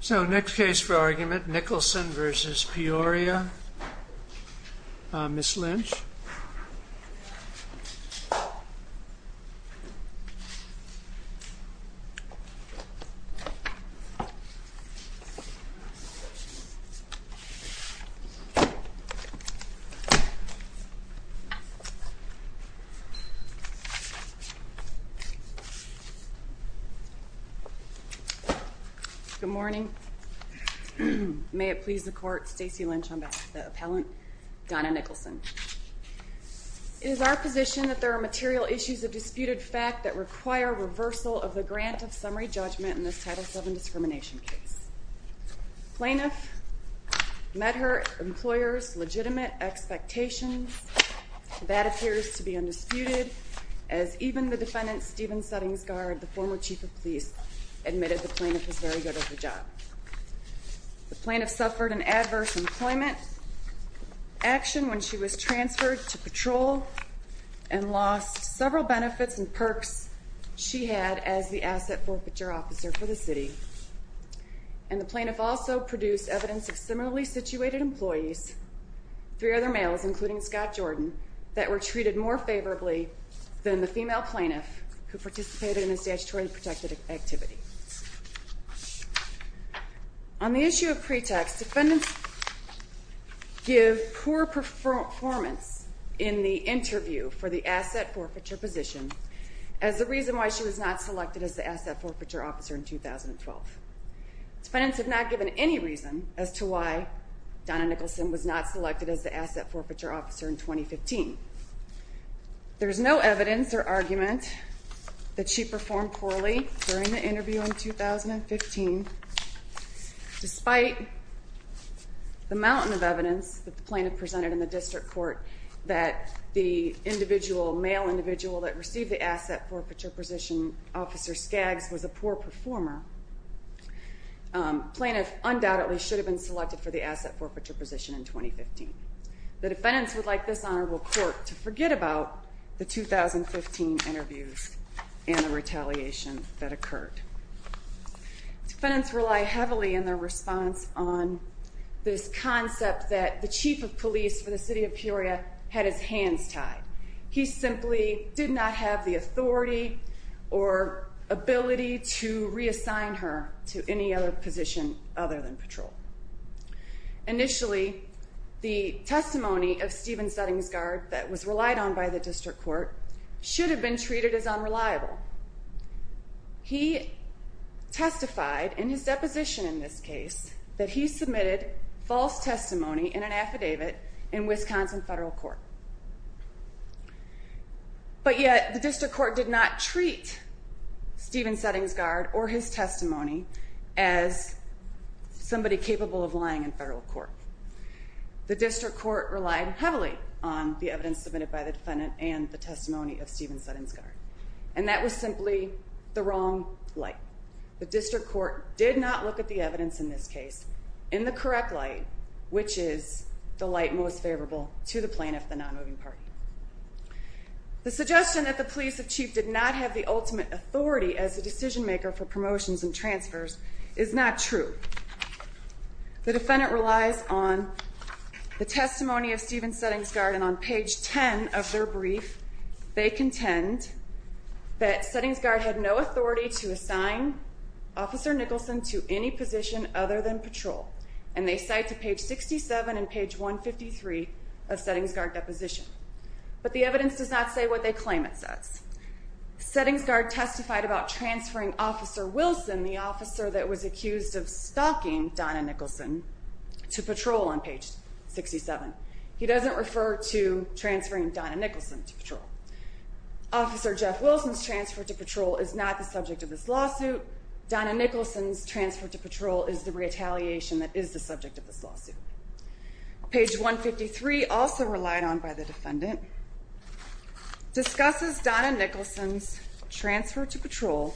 So next case for argument, Nicholson v. Peoria, Ms. Lynch Good morning. May it please the court, Stacey Lynch on behalf of the appellant, Donna Nicholson. It is our position that there are material issues of disputed fact that require reversal of the grant of summary judgment in this Title VII discrimination case. Plaintiff met her employer's legitimate expectations. That appears to be undisputed as even the defendant, Stephen Suttings-Gard, the former chief of police, admitted the plaintiff was very good at her job. The plaintiff suffered an adverse employment action when she was transferred to patrol and lost several benefits and perks she had as the asset forfeiture officer for the city. And the plaintiff also produced evidence of similarly situated employees, three other males including Scott Jordan, that were treated more favorably than the female plaintiff who participated in a statutorily protected activity. On the issue of pretext, defendants give poor performance in the interview for the asset forfeiture position as the reason why she was not selected as the asset forfeiture officer in 2012. Defendants have not given any reason as to why Donna Nicholson was not selected as the asset forfeiture officer in 2015. There is no evidence or argument that she performed poorly during the interview in 2015. Despite the mountain of evidence that the plaintiff presented in the district court that the male individual that received the asset forfeiture position, Officer Skaggs, was a poor performer, plaintiff undoubtedly should have been selected for the asset forfeiture position in 2015. The defendants would like this honorable court to forget about the 2015 interviews and the retaliation that occurred. Defendants rely heavily in their response on this concept that the chief of police for the city of Peoria had his hands tied. He simply did not have the authority or ability to reassign her to any other position other than patrol. Initially, the testimony of Stephen Settingsgard that was relied on by the district court should have been treated as unreliable. He testified in his deposition in this case that he submitted false testimony in an affidavit in Wisconsin federal court. But yet, the district court did not treat Stephen Settingsgard or his testimony as somebody capable of lying in federal court. The district court relied heavily on the evidence submitted by the defendant and the testimony of Stephen Settingsgard. And that was simply the wrong light. The suggestion that the police chief did not have the ultimate authority as a decision maker for promotions and transfers is not true. The defendant relies on the testimony of Stephen Settingsgard and on page 10 of their brief, they contend that Settingsgard had no authority to assign Officer Nicholson to any position other than patrol. And they cite to page 67 and page 153 of Settingsgard's deposition. But the evidence does not say what they claim it says. Settingsgard testified about transferring Officer Wilson, the officer that was accused of stalking Donna Nicholson, to patrol on page 67. He doesn't refer to transferring Donna Nicholson to patrol. Officer Jeff Wilson's transfer to patrol is not the subject of this lawsuit. Donna Nicholson's transfer to patrol is the retaliation that is the subject of this lawsuit. Page 153, also relied on by the defendant, discusses Donna Nicholson's transfer to patrol,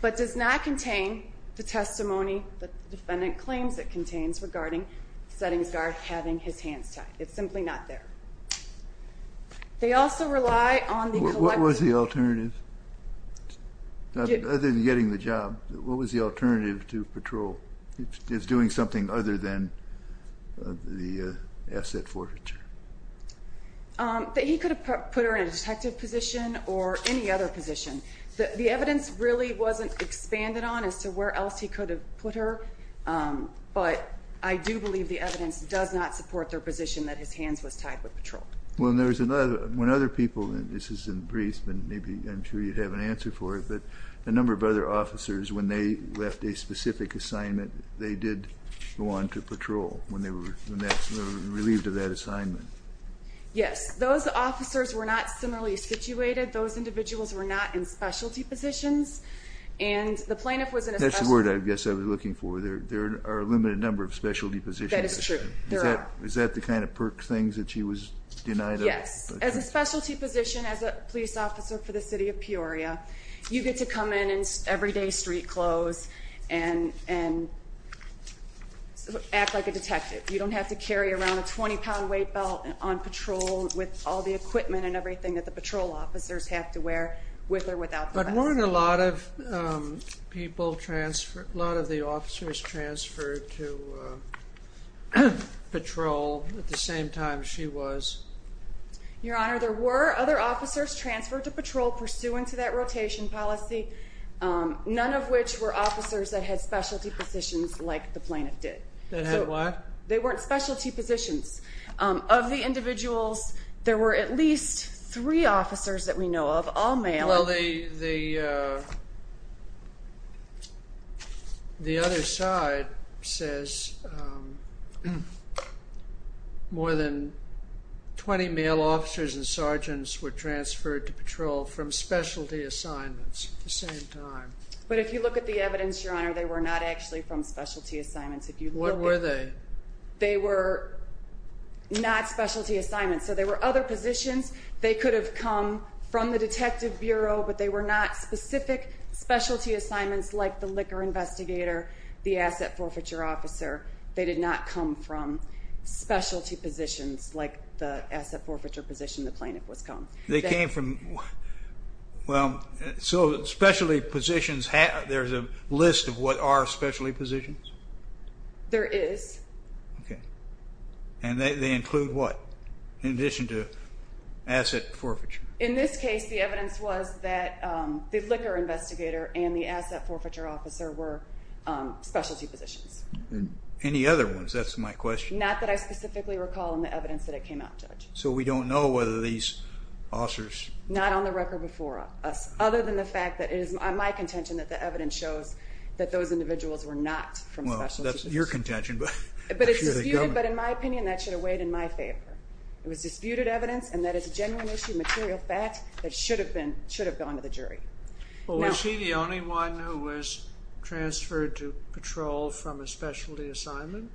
but does not contain the testimony that the defendant claims it contains regarding Settingsgard having his hands tied. It's simply not there. They also rely on the collective... What was the alternative? Other than getting the job, what was the alternative to patrol? It's doing something other than the asset forfeiture. He could have put her in a detective position or any other position. The evidence really wasn't expanded on as to where else he could have put her, but I do believe the evidence does not support their position that his hands was tied with patrol. When other people, and this is in brief, and I'm sure you'd have an answer for it, but a number of other officers, when they left a specific assignment, they did go on to patrol when they were relieved of that assignment. Yes. Those officers were not similarly situated. Those individuals were not in specialty positions. That's the word I guess I was looking for. There are a limited number of specialty positions. That is true. Is that the kind of perk things that she was denied? Yes. As a specialty position, as a police officer for the city of Peoria, you get to come in in everyday street clothes and act like a detective. You don't have to carry around a 20-pound weight belt on patrol with all the equipment and everything that the patrol officers have to wear with or without the vest. But weren't a lot of the officers transferred to patrol at the same time she was? Your Honor, there were other officers transferred to patrol pursuant to that rotation policy, none of which were officers that had specialty positions like the plaintiff did. That had what? They weren't specialty positions. Of the individuals, there were at least three officers that we know of, all male. Well, the other side says more than 20 male officers and sergeants were transferred to patrol from specialty assignments at the same time. But if you look at the evidence, Your Honor, they were not actually from specialty assignments. What were they? They were not specialty assignments. So there were other positions they could have come from the detective bureau, but they were not specific specialty assignments like the liquor investigator, the asset forfeiture officer. They did not come from specialty positions like the asset forfeiture position the plaintiff was called. They came from, well, so specialty positions, there's a list of what are specialty positions? There is. Okay. And they include what in addition to asset forfeiture? In this case, the evidence was that the liquor investigator and the asset forfeiture officer were specialty positions. Any other ones? That's my question. Not that I specifically recall in the evidence that it came out, Judge. So we don't know whether these officers... Not on the record before us, other than the fact that it is my contention that the evidence shows that those individuals were not from specialty positions. That's your contention. But in my opinion, that should have weighed in my favor. It was disputed evidence, and that is a genuine issue, material fact, that should have gone to the jury. Well, was she the only one who was transferred to patrol from a specialty assignment?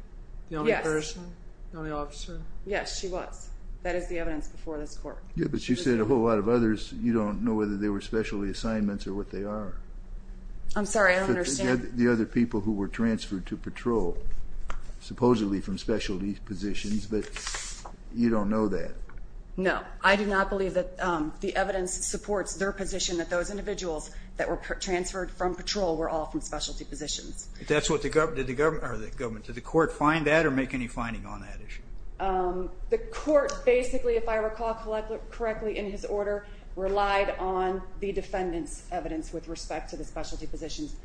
Yes. The only person, the only officer? Yes, she was. That is the evidence before this court. Yeah, but you said a whole lot of others, you don't know whether they were specialty assignments or what they are. I'm sorry, I don't understand. The other people who were transferred to patrol, supposedly from specialty positions, but you don't know that. No, I do not believe that the evidence supports their position that those individuals that were transferred from patrol were all from specialty positions. That's what the government, or the government, did the court find that or make any finding on that issue? The court basically, if I recall correctly in his order, relied on the defendant's evidence with respect to the specialty positions.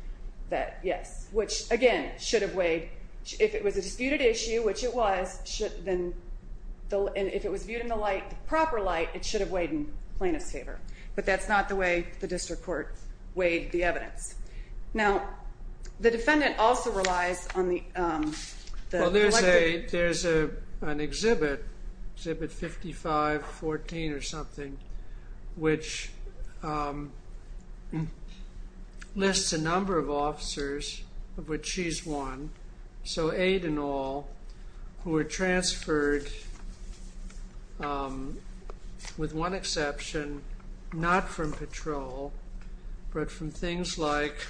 Yes, which, again, should have weighed, if it was a disputed issue, which it was, and if it was viewed in the proper light, it should have weighed in plaintiff's favor. But that's not the way the district court weighed the evidence. Now, the defendant also relies on the... There's an exhibit, Exhibit 5514 or something, which lists a number of officers, of which she's one, so eight in all, who were transferred, with one exception, not from patrol, but from things like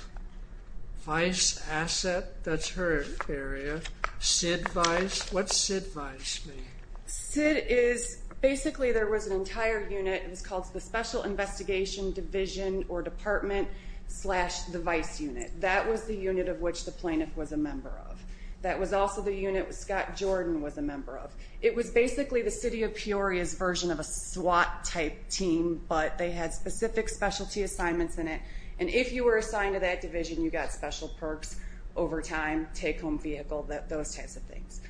Vice Asset, that's her area, SID Vice, what's SID Vice mean? SID is, basically there was an entire unit, it was called the Special Investigation Division or Department, slash the Vice Unit. That was the unit of which the plaintiff was a member of. That was also the unit Scott Jordan was a member of. It was basically the City of Peoria's version of a SWAT type team, but they had specific specialty assignments in it, and if you were assigned to that division, you got special perks over time, take home vehicle, those types of things.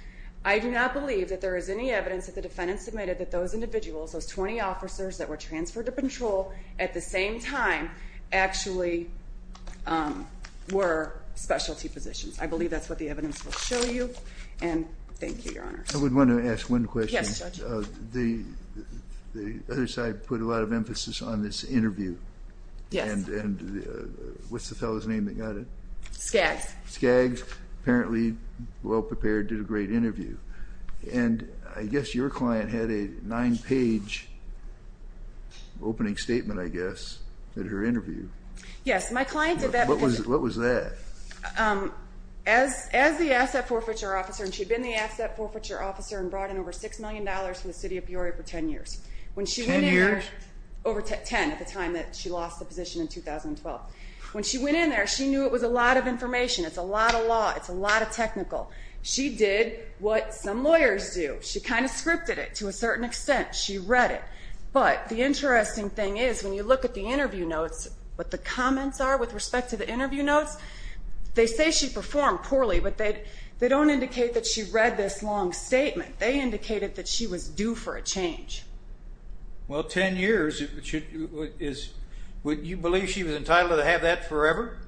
I do not believe that there is any evidence that the defendant submitted that those individuals, those 20 officers that were transferred to patrol, at the same time, actually were specialty positions. I believe that's what the evidence will show you, and thank you, Your Honor. I would want to ask one question. Yes, Judge. The other side put a lot of emphasis on this interview. Yes. And what's the fellow's name that got it? Skaggs. Skaggs, apparently well-prepared, did a great interview. And I guess your client had a nine-page opening statement, I guess, at her interview. Yes, my client did that. What was that? As the asset forfeiture officer, and she'd been the asset forfeiture officer and brought in over $6 million from the City of Peoria for 10 years. 10 years? Over 10 at the time that she lost the position in 2012. When she went in there, she knew it was a lot of information. It's a lot of law. It's a lot of technical. She did what some lawyers do. She kind of scripted it to a certain extent. She read it. But the interesting thing is, when you look at the interview notes, what the comments are with respect to the interview notes, they say she performed poorly, but they don't indicate that she read this long statement. They indicated that she was due for a change. Well, 10 years, would you believe she was entitled to have that forever?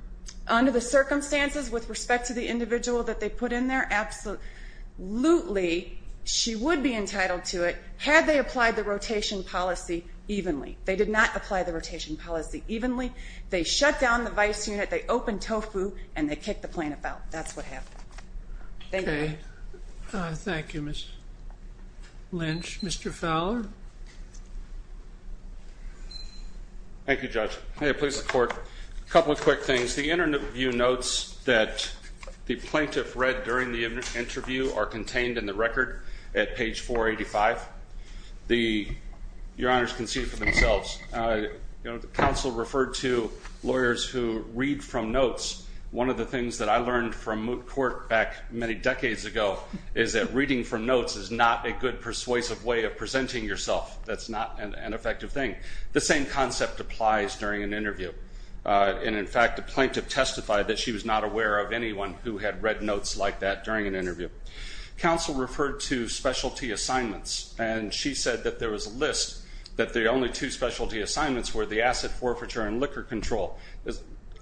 Under the circumstances with respect to the individual that they put in there, absolutely she would be entitled to it, had they applied the rotation policy evenly. They did not apply the rotation policy evenly. They shut down the vice unit, they opened TOEFL, and they kicked the plaintiff out. That's what happened. Thank you. Thank you, Ms. Lynch. Mr. Fowler. Thank you, Judge. May it please the Court. A couple of quick things. The interview notes that the plaintiff read during the interview are contained in the record at page 485. Your Honors can see for themselves. The counsel referred to lawyers who read from notes. One of the things that I learned from court back many decades ago is that that's not a good persuasive way of presenting yourself. That's not an effective thing. The same concept applies during an interview. And, in fact, the plaintiff testified that she was not aware of anyone who had read notes like that during an interview. Counsel referred to specialty assignments, and she said that there was a list that the only two specialty assignments were the asset forfeiture and liquor control.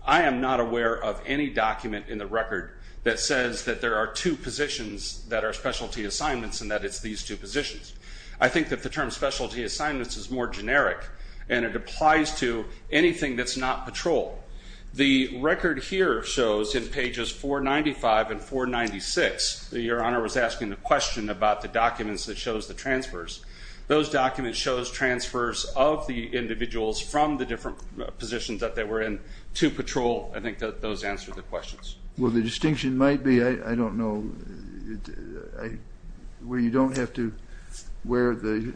I am not aware of any document in the record that says that there are two positions that are specialty assignments and that it's these two positions. I think that the term specialty assignments is more generic, and it applies to anything that's not patrol. The record here shows, in pages 495 and 496, that Your Honor was asking the question about the documents that shows the transfers. Those documents shows transfers of the individuals from the different positions that they were in to patrol. I think that those answer the questions. Well, the distinction might be, I don't know, where you don't have to wear the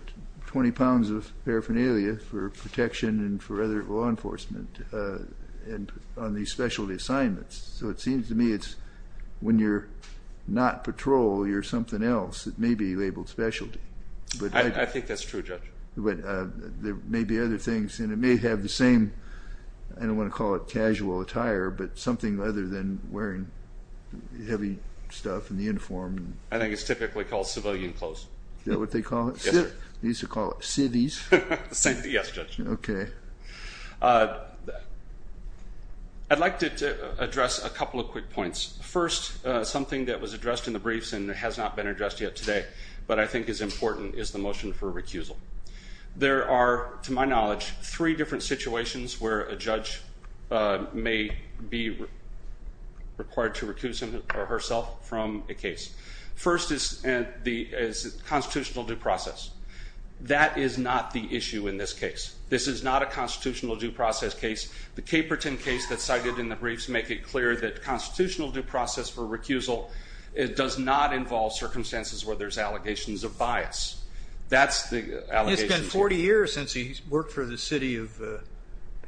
20 pounds of paraphernalia for protection and for other law enforcement on these specialty assignments. So it seems to me it's when you're not patrol, you're something else. It may be labeled specialty. I think that's true, Judge. There may be other things, and it may have the same, I don't want to call it casual attire, but something other than wearing heavy stuff in the uniform. I think it's typically called civilian clothes. Is that what they call it? Yes, sir. They used to call it civvies. Yes, Judge. Okay. I'd like to address a couple of quick points. First, something that was addressed in the briefs and has not been addressed yet today, but I think is important, is the motion for recusal. There are, to my knowledge, three different situations where a judge may be required to recuse herself from a case. First is constitutional due process. That is not the issue in this case. This is not a constitutional due process case. The Caperton case that's cited in the briefs make it clear that constitutional due process for recusal does not involve circumstances where there's allegations of bias. It's been 40 years since he's worked for the city of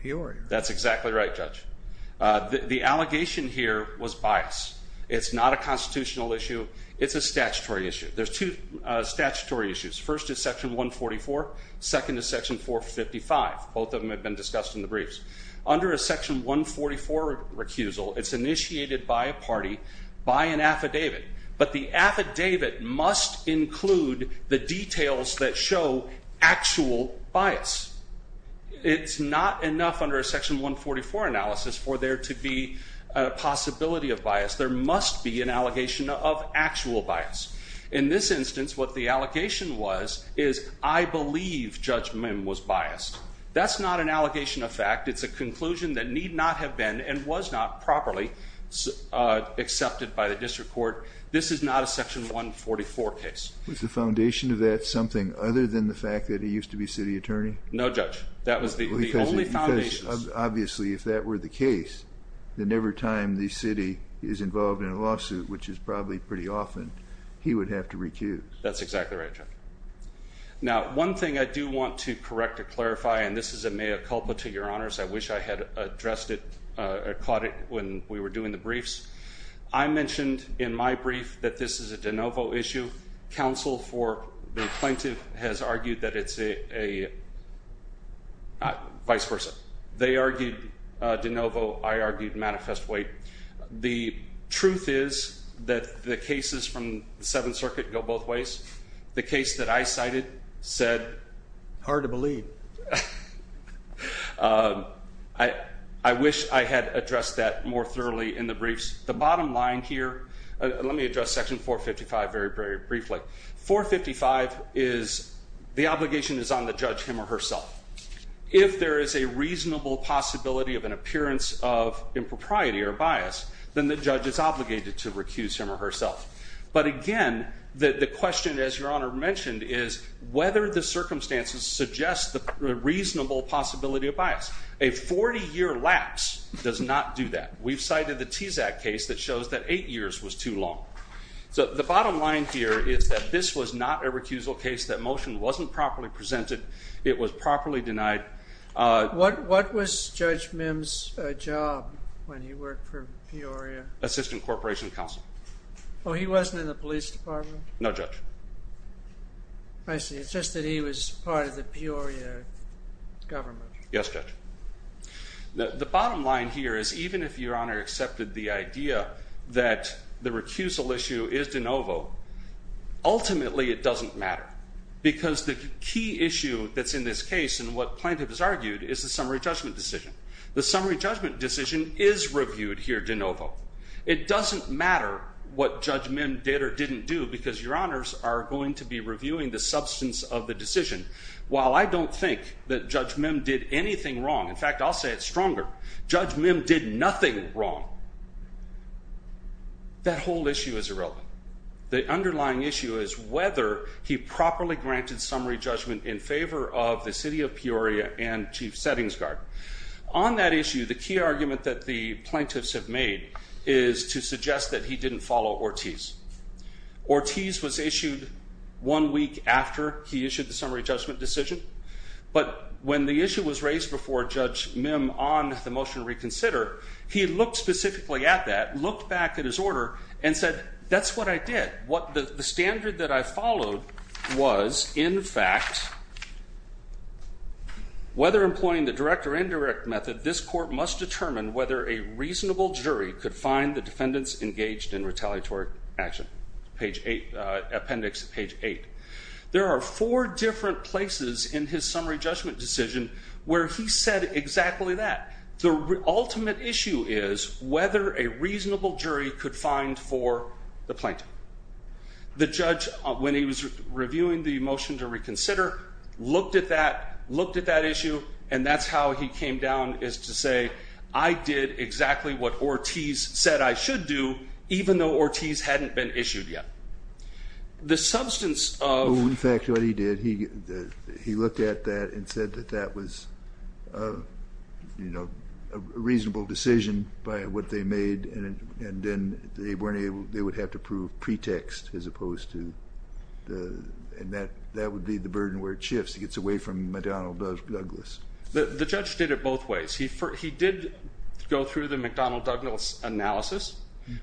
Peoria. That's exactly right, Judge. The allegation here was bias. It's not a constitutional issue. It's a statutory issue. There's two statutory issues. First is Section 144. Second is Section 455. Both of them have been discussed in the briefs. Under a Section 144 recusal, it's initiated by a party by an affidavit, but the affidavit must include the details that show actual bias. It's not enough under a Section 144 analysis for there to be a possibility of bias. There must be an allegation of actual bias. In this instance, what the allegation was is, I believe Judge Mim was biased. That's not an allegation of fact. It's a conclusion that need not have been and was not properly accepted by the district court. This is not a Section 144 case. Was the foundation of that something other than the fact that he used to be city attorney? No, Judge. That was the only foundation. Because obviously if that were the case, then every time the city is involved in a lawsuit, which is probably pretty often, he would have to recuse. That's exactly right, Judge. Now, one thing I do want to correct or clarify, and this is a mea culpa to your honors. I wish I had addressed it or caught it when we were doing the briefs. I mentioned in my brief that this is a de novo issue. Counsel for the plaintiff has argued that it's a vice versa. They argued de novo. I argued manifest wait. The truth is that the cases from the Seventh Circuit go both ways. The case that I cited said. Hard to believe. I wish I had addressed that more thoroughly in the briefs. The bottom line here, let me address Section 455 very, very briefly. 455 is the obligation is on the judge him or herself. If there is a reasonable possibility of an appearance of impropriety or bias, then the judge is obligated to recuse him or herself. But again, the question, as your honor mentioned, is whether the circumstances suggest the reasonable possibility of bias. A 40-year lapse does not do that. We've cited the TSAC case that shows that eight years was too long. So the bottom line here is that this was not a recusal case. That motion wasn't properly presented. It was properly denied. What was Judge Mims' job when he worked for Peoria? Assistant Corporation Counsel. Oh, he wasn't in the police department? No, Judge. I see. It's just that he was part of the Peoria government. Yes, Judge. The bottom line here is even if your honor accepted the idea that the recusal issue is de novo, ultimately it doesn't matter. Because the key issue that's in this case and what plaintiff has argued is the summary judgment decision. The summary judgment decision is reviewed here de novo. It doesn't matter what Judge Mims did or didn't do because your honors are going to be reviewing the substance of the decision. While I don't think that Judge Mims did anything wrong, in fact, I'll say it stronger, Judge Mims did nothing wrong. That whole issue is irrelevant. The underlying issue is whether he properly granted summary judgment in favor of the city of Peoria and Chief Settings Guard. On that issue, the key argument that the plaintiffs have made is to suggest that he didn't follow Ortiz. Ortiz was issued one week after he issued the summary judgment decision. But when the issue was raised before Judge Mims on the motion to reconsider, he looked specifically at that, looked back at his order, and said, that's what I did. The standard that I followed was, in fact, whether employing the direct or indirect method, this court must determine whether a reasonable jury could find the defendants engaged in retaliatory action, appendix page 8. There are four different places in his summary judgment decision where he said exactly that. The ultimate issue is whether a reasonable jury could find for the plaintiff. The judge, when he was reviewing the motion to reconsider, looked at that, looked at that issue, and that's how he came down is to say, I did exactly what Ortiz said I should do, even though Ortiz hadn't been issued yet. The substance of the fact that he did, he looked at that and said that that was a reasonable decision by what they would have to prove pretext as opposed to the, and that would be the burden where it shifts. It gets away from McDonnell Douglas. The judge did it both ways. He did go through the McDonnell Douglas analysis,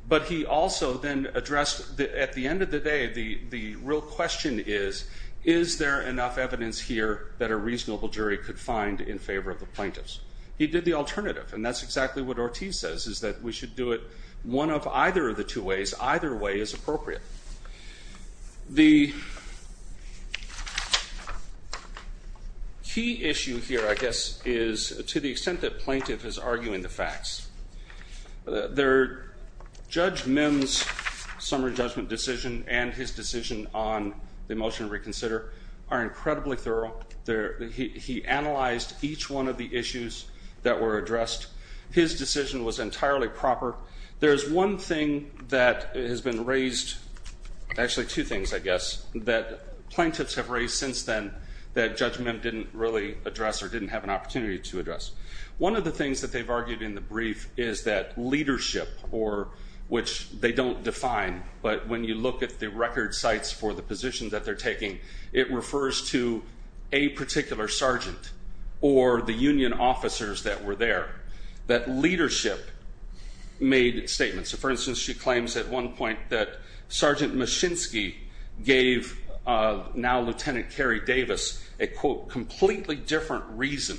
but he also then addressed, at the end of the day, the real question is, is there enough evidence here that a reasonable jury could find in favor of the plaintiffs? He did the alternative, and that's exactly what Ortiz says is that we should do it one of either of the two ways. Either way is appropriate. The key issue here, I guess, is to the extent that plaintiff is arguing the facts. Judge Mims' summary judgment decision and his decision on the motion to reconsider are incredibly thorough. He analyzed each one of the issues that were addressed. His decision was entirely proper. There is one thing that has been raised, actually two things, I guess, that plaintiffs have raised since then that Judge Mims didn't really address or didn't have an opportunity to address. One of the things that they've argued in the brief is that leadership, which they don't define, but when you look at the record sites for the position that they're taking, it refers to a particular sergeant or the union officers that were there, that leadership made statements. For instance, she claims at one point that Sergeant Machinsky gave now Lieutenant Carrie Davis a, quote, completely different reason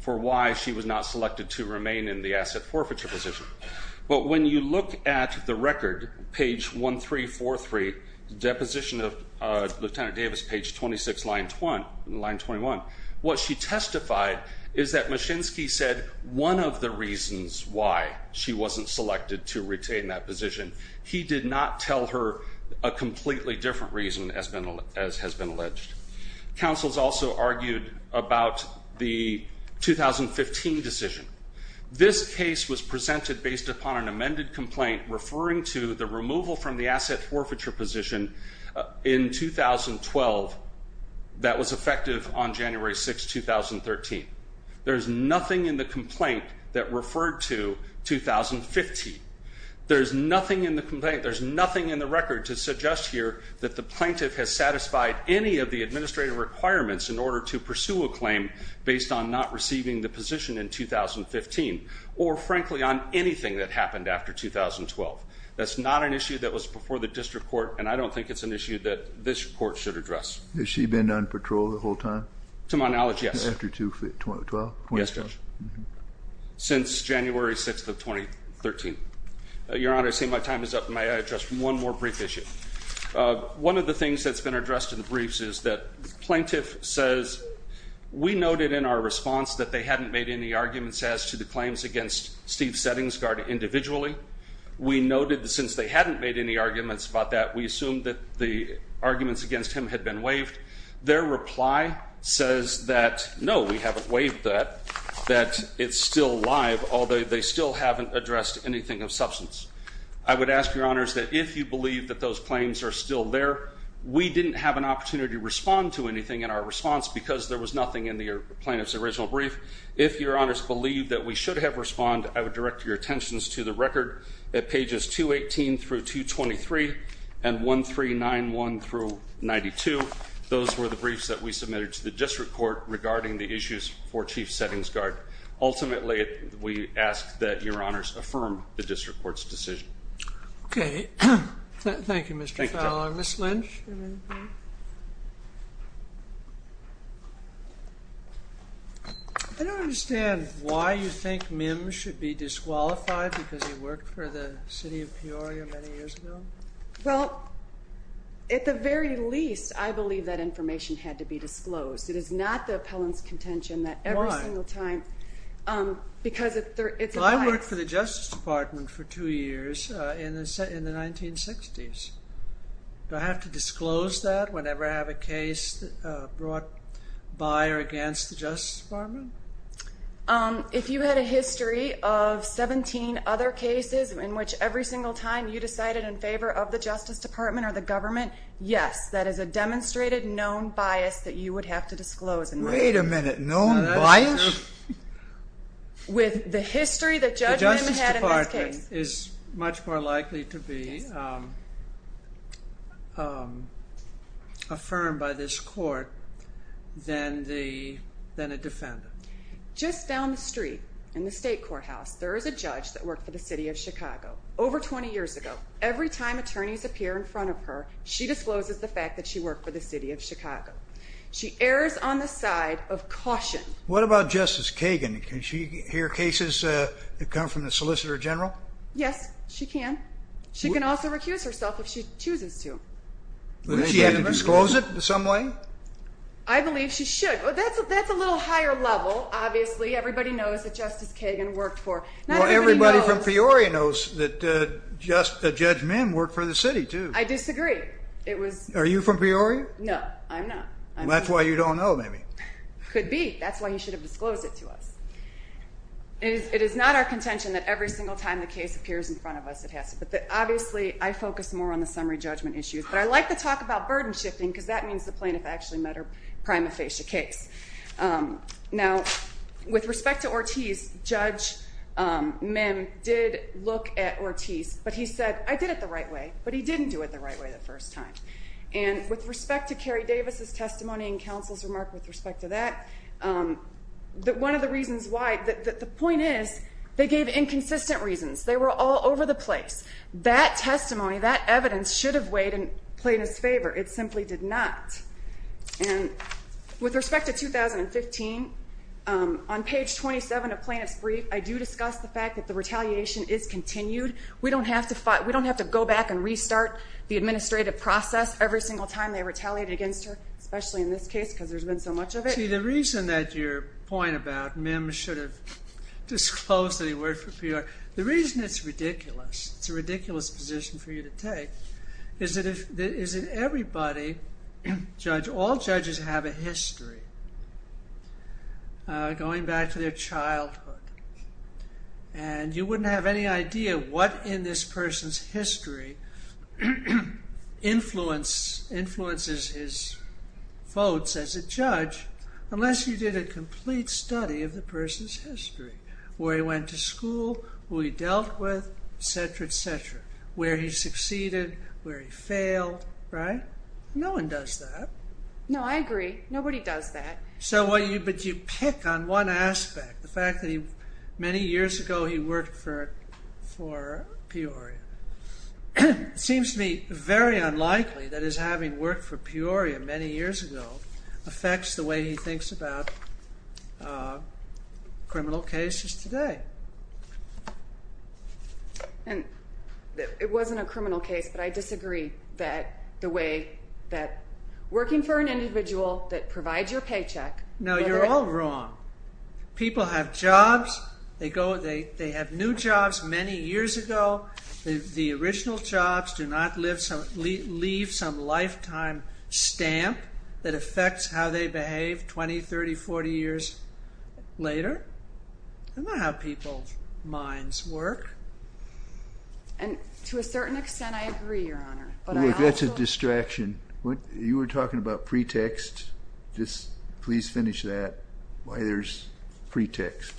for why she was not selected to remain in the asset forfeiture position. But when you look at the record, page 1343, deposition of Lieutenant Davis, page 26, line 21, what she testified is that Machinsky said one of the reasons why she wasn't selected to retain that position. He did not tell her a completely different reason as has been alleged. Counsel's also argued about the 2015 decision. This case was presented based upon an amended complaint referring to the removal from the asset forfeiture position in 2012 that was effective on January 6, 2013. There's nothing in the complaint that referred to 2015. There's nothing in the complaint, there's nothing in the record to suggest here that the plaintiff has satisfied any of the administrative requirements in order to pursue a claim based on not receiving the position in 2015 or, frankly, on anything that happened after 2012. That's not an issue that was before the district court, and I don't think it's an issue that this court should address. Has she been on patrol the whole time? To my knowledge, yes. After 2012? Yes, Judge. Since January 6th of 2013. Your Honor, I see my time is up. May I address one more brief issue? One of the things that's been addressed in the briefs is that the plaintiff says, we noted in our response that they hadn't made any arguments as to the claims against Steve Settingsguard individually. We noted that since they hadn't made any arguments about that, we assumed that the arguments against him had been waived. Their reply says that, no, we haven't waived that, that it's still live, although they still haven't addressed anything of substance. I would ask, Your Honors, that if you believe that those claims are still there, we didn't have an opportunity to respond to anything in our response because there was nothing in the plaintiff's original brief. If Your Honors believe that we should have responded, I would direct your attentions to the record at pages 218 through 223 and 1391 through 92. Those were the briefs that we submitted to the district court regarding the issues for Chief Settingsguard. Ultimately, we ask that Your Honors affirm the district court's decision. Okay. Thank you, Mr. Fowler. Ms. Lynch? Thank you, Mr. Chairman. I don't understand why you think Mims should be disqualified because he worked for the city of Peoria many years ago. Well, at the very least, I believe that information had to be disclosed. It is not the appellant's contention that every single time. Why? Because it's a lie. Well, I worked for the Justice Department for two years in the 1960s. Do I have to disclose that whenever I have a case brought by or against the Justice Department? If you had a history of 17 other cases in which every single time you decided in favor of the Justice Department or the government, yes, that is a demonstrated known bias that you would have to disclose. Wait a minute. Known bias? With the history that Judge Mims had in this case. That is much more likely to be affirmed by this court than a defendant. Just down the street in the state courthouse, there is a judge that worked for the city of Chicago over 20 years ago. Every time attorneys appear in front of her, she discloses the fact that she worked for the city of Chicago. She errs on the side of caution. What about Justice Kagan? Can she hear cases that come from the Solicitor General? Yes, she can. She can also recuse herself if she chooses to. Would she have to disclose it in some way? I believe she should. That's a little higher level, obviously. Everybody knows that Justice Kagan worked for. Not everybody knows. Well, everybody from Peoria knows that Judge Mims worked for the city, too. I disagree. Are you from Peoria? No, I'm not. That's why you don't know, maybe. Could be. That's why he should have disclosed it to us. It is not our contention that every single time the case appears in front of us, it has to be. Obviously, I focus more on the summary judgment issues. But I like to talk about burden shifting because that means the plaintiff actually met her prima facie case. Now, with respect to Ortiz, Judge Mims did look at Ortiz. But he said, I did it the right way. But he didn't do it the right way the first time. And with respect to Kerry Davis' testimony and counsel's remark with respect to that, one of the reasons why the point is they gave inconsistent reasons. They were all over the place. That testimony, that evidence should have weighed in plaintiff's favor. It simply did not. And with respect to 2015, on page 27 of plaintiff's brief, I do discuss the fact that the retaliation is continued. We don't have to go back and restart the administrative process every single time they retaliate against her, especially in this case because there's been so much of it. See, the reason that your point about Mims should have disclosed that he worked for PR, the reason it's ridiculous, it's a ridiculous position for you to take, is that everybody, all judges have a history going back to their childhood. And you wouldn't have any idea what in this person's history influences his votes as a judge unless you did a complete study of the person's history, where he went to school, who he dealt with, et cetera, et cetera, where he succeeded, where he failed, right? No one does that. No, I agree. Nobody does that. But you pick on one aspect, the fact that many years ago he worked for Peoria. It seems to me very unlikely that his having worked for Peoria many years ago affects the way he thinks about criminal cases today. And it wasn't a criminal case, but I disagree that the way that working for an individual that provides your paycheck... No, you're all wrong. People have jobs. They have new jobs many years ago. The original jobs do not leave some lifetime stamp that affects how they behave 20, 30, 40 years later. That's not how people's minds work. And to a certain extent, I agree, Your Honor. That's a distraction. You were talking about pretext. Just please finish that, why there's pretext.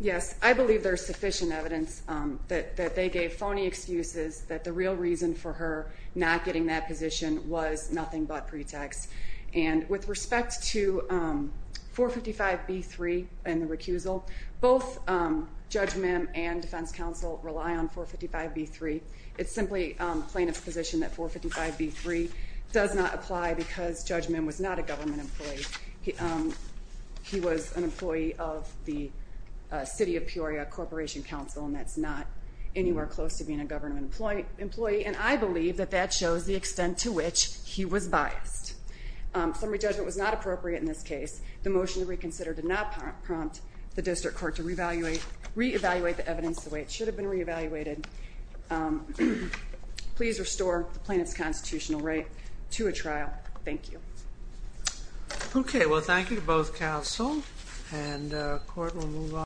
Yes, I believe there's sufficient evidence that they gave phony excuses that the real reason for her not getting that position was nothing but pretext. And with respect to 455b-3 and the recusal, both Judge Mim and Defense Counsel rely on 455b-3. It's simply plaintiff's position that 455b-3 does not apply because Judge Mim was not a government employee. He was an employee of the City of Peoria Corporation Counsel, and that's not anywhere close to being a government employee. And I believe that that shows the extent to which he was biased. Summary judgment was not appropriate in this case. The motion to reconsider did not prompt the district court to reevaluate the evidence the way it should have been reevaluated. Please restore the plaintiff's constitutional right to a trial. Thank you. Okay, well, thank you to both counsel, and the court will move on.